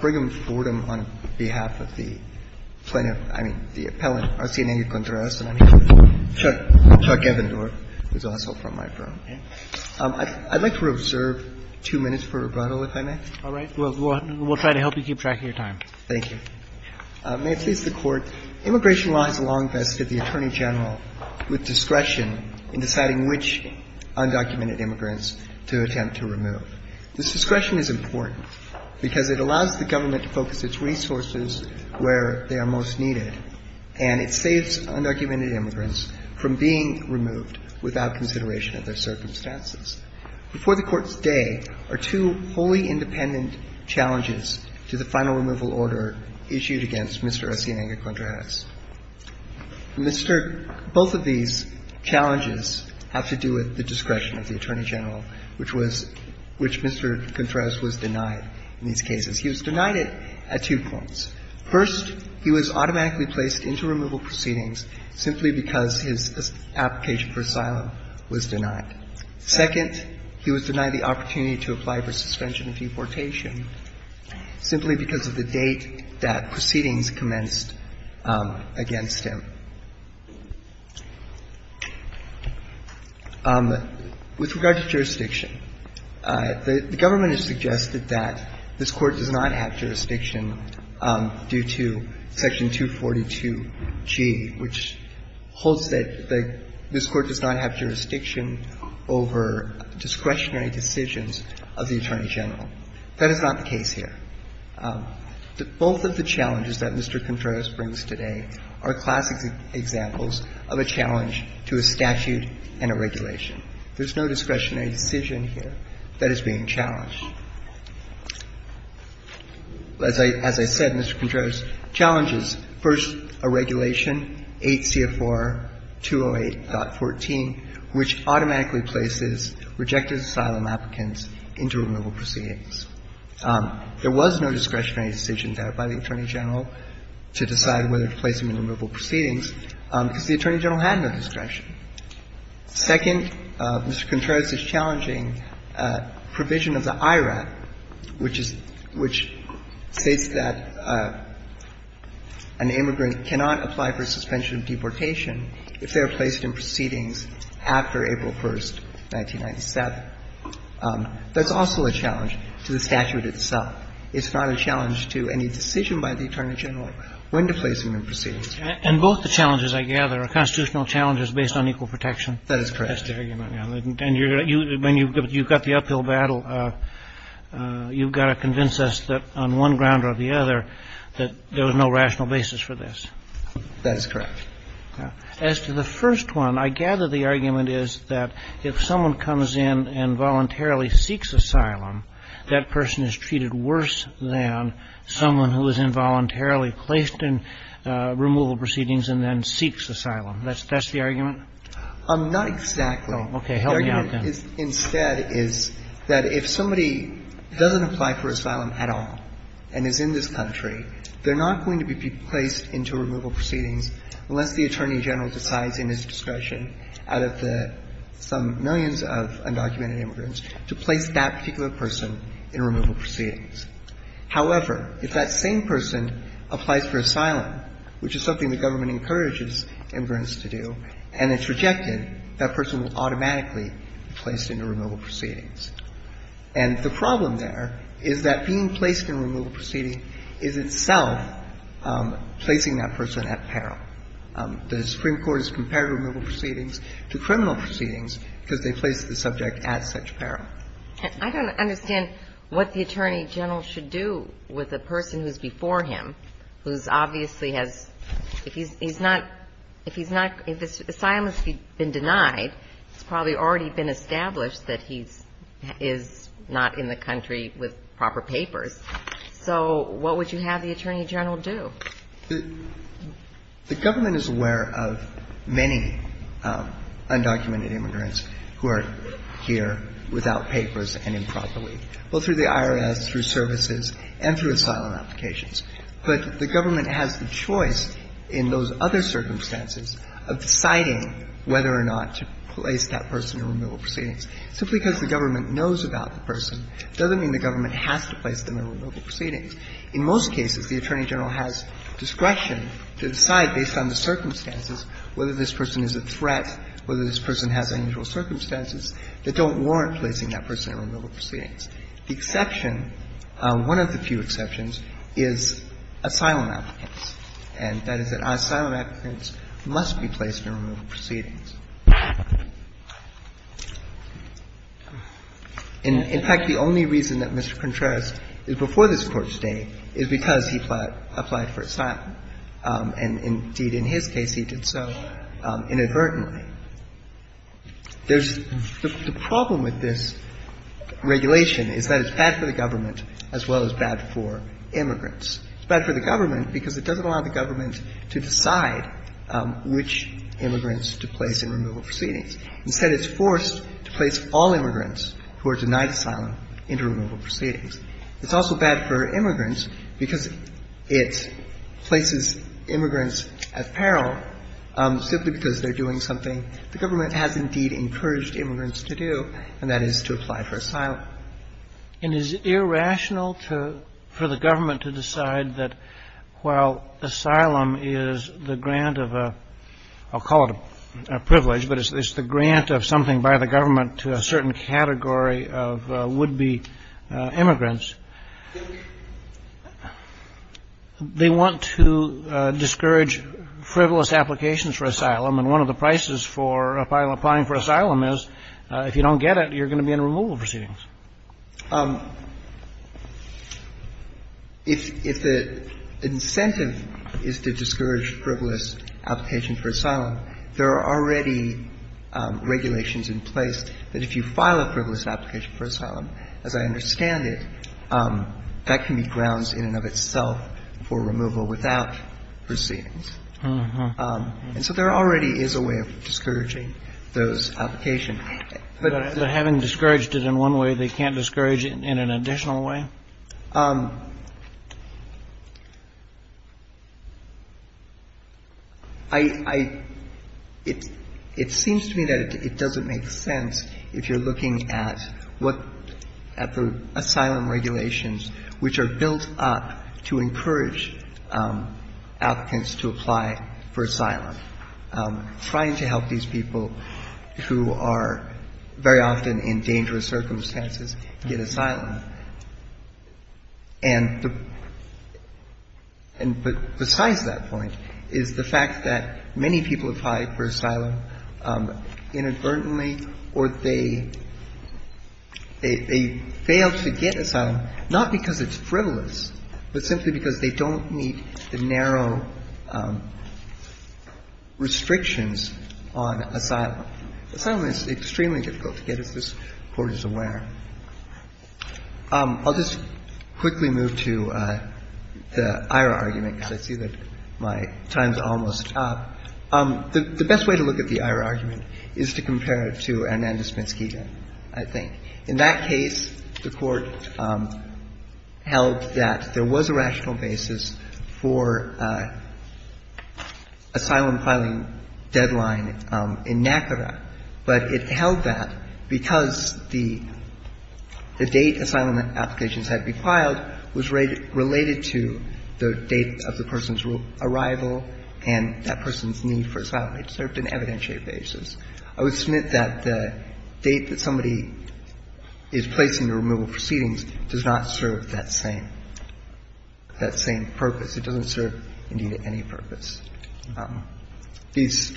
Brigham Fordham on behalf of the plaintiff, I mean, the appellant, Arcinega-Contreras and Chuck Evendorf, who's also from my firm. I'd like to reserve two minutes for rebuttal, if I may. All right. We'll try to help you keep track of your time. Thank you. May it please the Court, immigration law has long vested the Attorney General with discretion in deciding which undocumented immigrants to attempt to remove. This discretion is important because it allows the government to focus its resources where they are most needed, and it saves undocumented immigrants from being removed without consideration of their circumstances. Before the Court's day are two wholly independent challenges to the final removal order issued against Mr. Arcinega-Contreras. Mr. — both of these challenges have to do with the discretion of the Attorney General, which was — which Mr. Contreras was denied in these cases. He was denied it at two points. First, he was automatically placed into removal proceedings simply because his application for asylum was denied. Second, he was denied the opportunity to apply for suspension of deportation simply because of the date that proceedings commenced against him. With regard to jurisdiction, the government has suggested that this Court does not have jurisdiction due to Section 242G, which holds that the — this over discretionary decisions of the Attorney General. That is not the case here. Both of the challenges that Mr. Contreras brings today are classic examples of a challenge to a statute and a regulation. There's no discretionary decision here that is being challenged. As I — as I said, Mr. Contreras' challenge is, first, a regulation, 8 CFR 208.14, which automatically places rejected asylum applicants into removal proceedings. There was no discretionary decision there by the Attorney General to decide whether to place them in removal proceedings because the Attorney General had no discretion. Second, Mr. Contreras' challenging provision of the IRAT, which is — which states that an immigrant cannot apply for suspension of deportation if they are placed in proceedings after April 1st, 1997. That's also a challenge to the statute itself. It's not a challenge to any decision by the Attorney General when to place them in proceedings. And both the challenges, I gather, are constitutional challenges based on equal protection. That is correct. That's the argument. And you're — when you've got the uphill battle, you've got to convince us that on one ground or the other that there was no rational basis for this. That is correct. As to the first one, I gather the argument is that if someone comes in and voluntarily seeks asylum, that person is treated worse than someone who is involuntarily placed in removal proceedings and then seeks asylum. That's the argument? Not exactly. Okay. Help me out, then. The argument instead is that if somebody doesn't apply for asylum at all and is in this case, the Attorney General decides in his discretion, out of the — some millions of undocumented immigrants, to place that particular person in removal proceedings. However, if that same person applies for asylum, which is something the government encourages immigrants to do, and it's rejected, that person will automatically be placed into removal proceedings. And the problem there is that being placed in removal proceedings is itself placing that person at peril. The Supreme Court has compared removal proceedings to criminal proceedings because they place the subject at such peril. I don't understand what the Attorney General should do with a person who's before him, who's obviously has — if he's not — if he's not — if asylum has been denied, it's probably already been established that he is not in the country with proper papers. So what would you have the Attorney General do? The government is aware of many undocumented immigrants who are here without papers and improperly, both through the IRS, through services, and through asylum applications. But the government has the choice in those other circumstances of deciding whether or not to place that person in removal proceedings. Simply because the government knows about the person doesn't mean the government has to place them in removal proceedings. In most cases, the Attorney General has discretion to decide, based on the circumstances, whether this person is a threat, whether this person has unusual circumstances that don't warrant placing that person in removal proceedings. The exception, one of the few exceptions, is asylum applicants, and that is that asylum applicants must be placed in removal proceedings. In fact, the only reason that Mr. Contreras is before this Court today is because he applied for asylum, and indeed, in his case, he did so inadvertently. There's — the problem with this regulation is that it's bad for the government as well as bad for immigrants. It's bad for the government because it doesn't allow the government to decide which immigrants to place in removal proceedings. Instead, it's forced to place all immigrants who are denied asylum into removal proceedings. It's also bad for immigrants because it places immigrants at peril simply because they're doing something the government has indeed encouraged immigrants to do, and that is to apply for asylum. It is irrational to — for the government to decide that while asylum is the grant of a — I'll call it a privilege, but it's the grant of something by the government to a certain category of would-be immigrants, they want to discourage frivolous applications for asylum, and one of the prices for applying for asylum is if you don't get it, you're going to be in removal proceedings. If the incentive is to discourage frivolous application for asylum, there are already regulations in place that if you file a frivolous application for asylum, as I understand it, that can be grounds in and of itself for removal without proceedings. And so there already is a way of discouraging those applications. But having discouraged it in one way, they can't discourage it in an additional way? I — it seems to me that it doesn't make sense if you're looking at what — at the asylum regulations which are built up to encourage applicants to apply for asylum, trying to help these people who are very often in dangerous circumstances get asylum. And the — and besides that point is the fact that many people apply for asylum inadvertently or they fail to get asylum, not because it's frivolous, but simply because they don't meet the narrow restrictions on asylum. Asylum is extremely difficult to get, as this Court is aware. I'll just quickly move to the IRA argument, because I see that my time's almost up. The best way to look at the IRA argument is to compare it to Hernandez-Menskida, I think. In that case, the Court held that there was a rational basis for asylum filing deadline in NACRA, but it held that because the date asylum applications had to be filed was related to the date of the person's arrival and that person's need for asylum. It served an evidentiary basis. I would submit that the date that somebody is placing the removal proceedings does not serve that same purpose. It doesn't serve, indeed, any purpose. These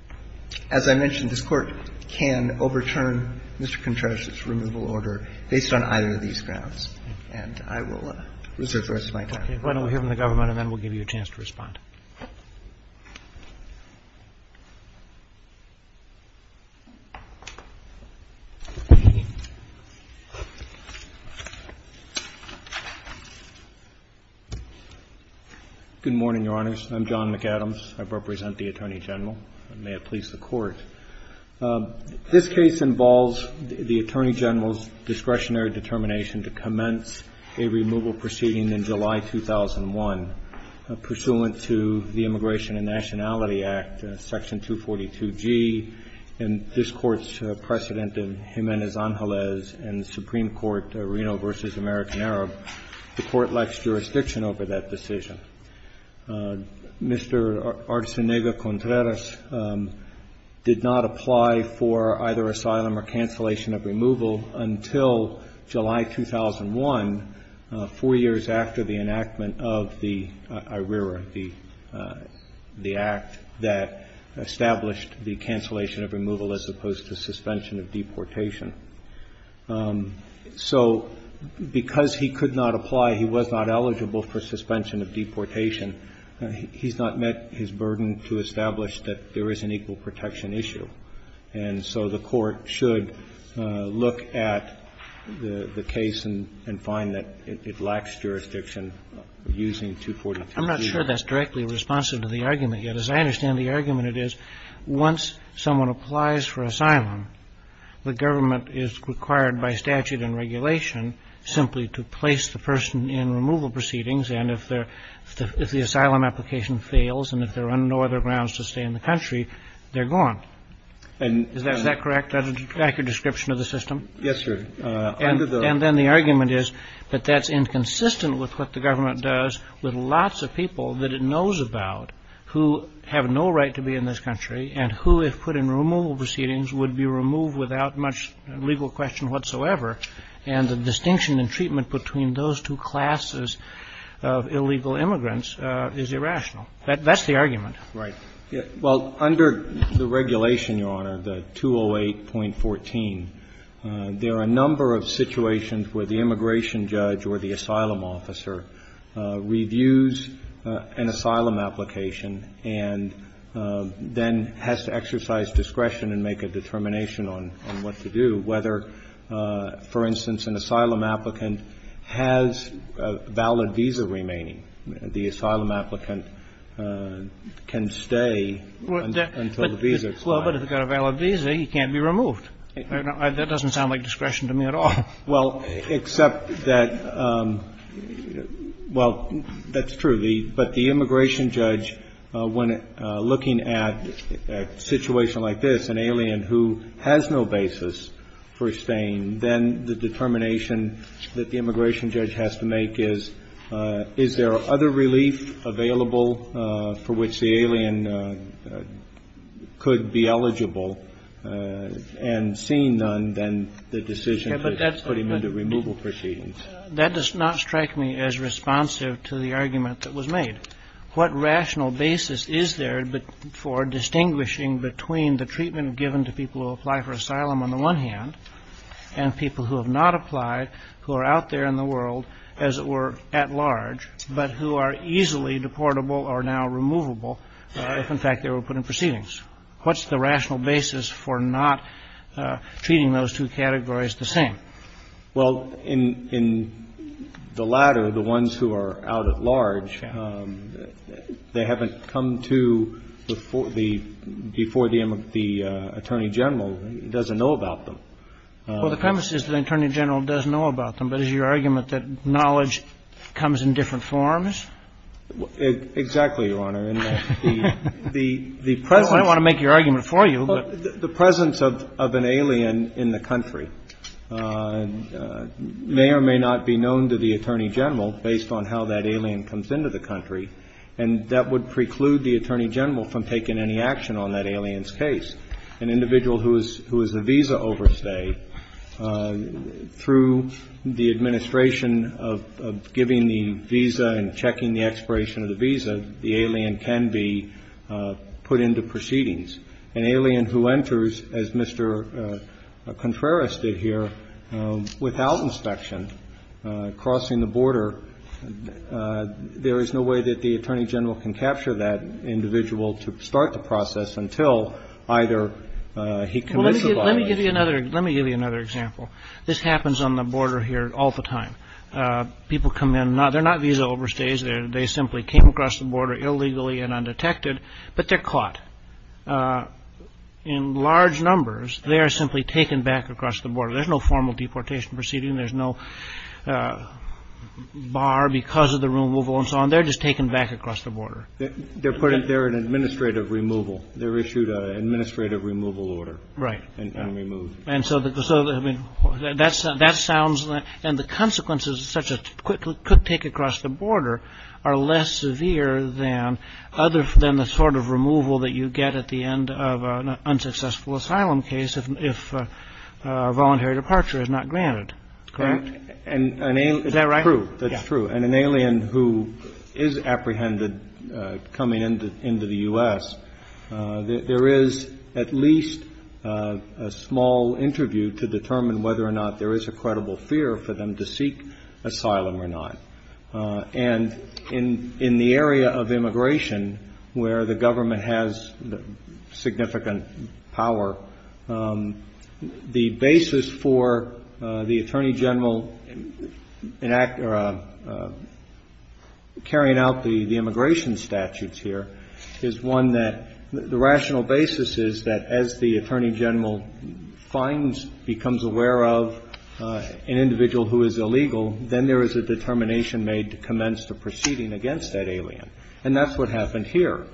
— as I mentioned, this Court can overturn Mr. Contreras' removal order based on either of these grounds, and I will reserve the rest of my time. Roberts. Okay. Why don't we hear from the government and then we'll give you a chance to respond. Good morning, Your Honors. I'm John McAdams. I represent the Attorney General. And may it please the Court, this case involves the Attorney General's discretionary determination to commence a removal proceeding in July 2001 pursuant to the Immigration and Nationality Act, Section 242G, and this Court's precedent in Jiménez-Ángelez and the Supreme Court, Reno v. American Arab, the Court lacks jurisdiction over that decision. Mr. Artzunaga-Contreras did not apply for either asylum or cancellation of removal until July 2001, four years after the enactment of the IRERA, the Act that established the cancellation of removal as opposed to suspension of deportation. So because he could not apply, he was not eligible for suspension of deportation, he's not met his burden to establish that there is an equal protection issue. And so the Court should look at the case and find that it lacks jurisdiction using 242G. I'm not sure that's directly responsive to the argument, yet, as I understand the argument it is, once someone applies for asylum, the government is required by statute and regulation simply to place the person in removal proceedings, and if the asylum application fails and if there are no other grounds to stay in the country, then the person is not eligible to stay in the country. Is that correct? That's an accurate description of the system? Yes, sir. And then the argument is that that's inconsistent with what the government does with lots of people that it knows about who have no right to be in this country and who, if put in removal proceedings, would be removed without much legal question whatsoever, and the distinction in treatment between those two classes of illegal immigrants is irrational. That's the argument. Right. Well, under the regulation, Your Honor, the 208.14, there are a number of situations where the immigration judge or the asylum officer reviews an asylum application and then has to exercise discretion and make a determination on what to do, whether, for instance, an asylum applicant has a valid visa remaining. The asylum applicant can stay until the visa expires. Well, but if he's got a valid visa, he can't be removed. That doesn't sound like discretion to me at all. Well, except that, well, that's true. But the immigration judge, when looking at a situation like this, an alien who has no basis for staying, then the determination that the immigration judge has to make is, is there other relief available for which the alien could be eligible and seeing none than the decision to put him into removal proceedings? That does not strike me as responsive to the argument that was made. What rational basis is there for distinguishing between the treatment given to people who apply for asylum on the one hand and people who have not applied, who are out there in the world, as it were, at large, but who are easily deportable or now removable if, in fact, they were put in proceedings? What's the rational basis for not treating those two categories the same? Well, in the latter, the ones who are out at large, they haven't come to before the Attorney General, doesn't know about them. Well, the premise is that the Attorney General does know about them. But is your argument that knowledge comes in different forms? Exactly, Your Honor. I don't want to make your argument for you. The presence of an alien in the country may or may not be known to the Attorney General based on how that alien comes into the country, and that would preclude the Attorney General from taking any action on that alien's case. An individual who is a visa overstay, through the administration of giving the visa and checking the expiration of the visa, the alien can be put into proceedings. An alien who enters, as Mr. Contreras did here, without inspection, crossing the border, there is no way that the Attorney General can capture that individual to start the process until either he commits a violation. Well, let me give you another example. This happens on the border here all the time. People come in. They're not visa overstays. They simply came across the border illegally and undetected, but they're caught. In large numbers, they are simply taken back across the border. There's no formal deportation proceeding. There's no bar because of the removal and so on. They're just taken back across the border. They're an administrative removal. They're issued an administrative removal order. Right. And removed. And so that sounds like, and the consequences such as could take across the border are less severe than the sort of removal that you get at the end of an unsuccessful asylum case if a voluntary departure is not granted. Correct? Is that right? That's true. And an alien who is apprehended coming into the U.S., there is at least a small interview to determine whether or not there is a credible fear for them to seek asylum or not. And in the area of immigration where the government has significant power, the basis for the Attorney General carrying out the immigration statutes here is one that the rational basis is that as the Attorney General finds, becomes aware of an individual who is illegal, then there is a determination made to commence the proceeding against that alien. And that's what happened here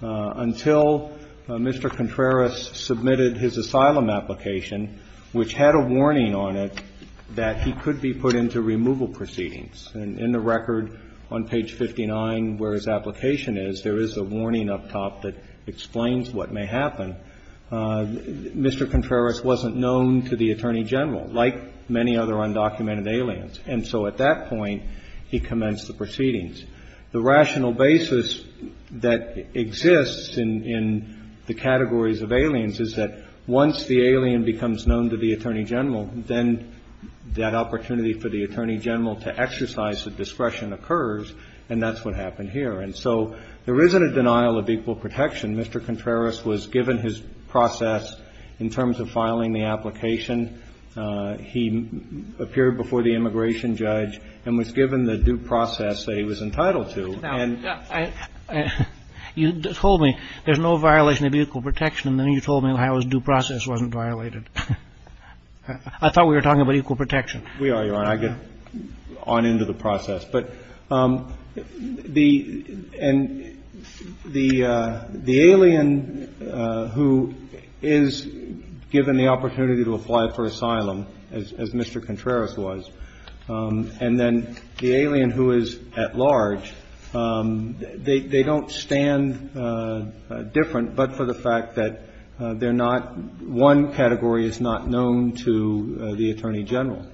until Mr. Contreras submitted his asylum application which had a warning on it that he could be put into removal proceedings. And in the record on page 59 where his application is, there is a warning up top that explains what may happen. Mr. Contreras wasn't known to the Attorney General like many other undocumented aliens. And so at that point, he commenced the proceedings. The rational basis that exists in the categories of aliens is that once the alien becomes known to the Attorney General, then that opportunity for the Attorney General to exercise the discretion occurs. And that's what happened here. And so there isn't a denial of equal protection. Mr. Contreras was given his process in terms of filing the application. He appeared before the immigration judge and was given the due process that he was entitled to. And you told me there's no violation of equal protection. And then you told me how his due process wasn't violated. I thought we were talking about equal protection. We are, Your Honor. I'll get on into the process. But the alien who is given the opportunity to apply for the immigration process, the alien who is given the opportunity to apply for asylum, as Mr. Contreras was, and then the alien who is at large, they don't stand different but for the fact that they're not one category is not known to the Attorney General.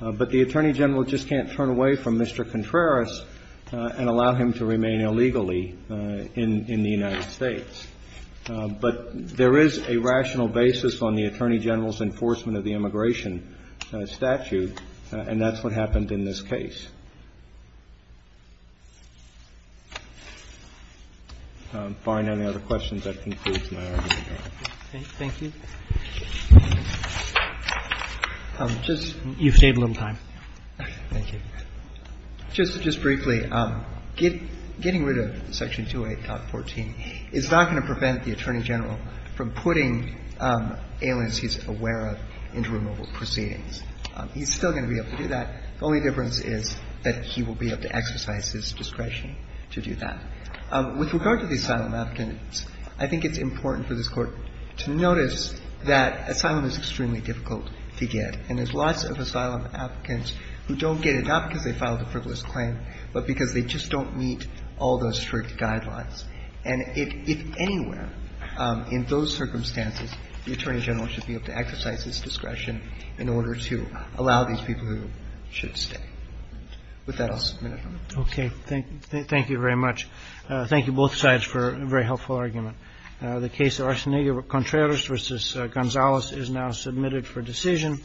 But the Attorney General just can't turn away from Mr. Contreras and allow him to remain illegally in the United States. But there is a rational basis on the Attorney General's enforcement of the immigration statute, and that's what happened in this case. If I find any other questions, that concludes my argument, Your Honor. Thank you. You've saved a little time. Thank you. Just briefly, getting rid of Section 28.14 is not going to prevent the Attorney General from putting aliens he's aware of into removal proceedings. He's still going to be able to do that. The only difference is that he will be able to exercise his discretion to do that. With regard to the asylum applicants, I think it's important for this Court to notice that asylum is extremely difficult to get, and there's lots of asylum applicants who don't get it not because they filed a frivolous claim but because they just don't meet all those strict guidelines. And if anywhere in those circumstances, the Attorney General should be able to exercise his discretion in order to allow these people who should stay. With that, I'll submit it, Your Honor. Okay. Thank you very much. Thank you, both sides, for a very helpful argument. The case of Arsenio Contreras v. Gonzalez is now submitted for decision.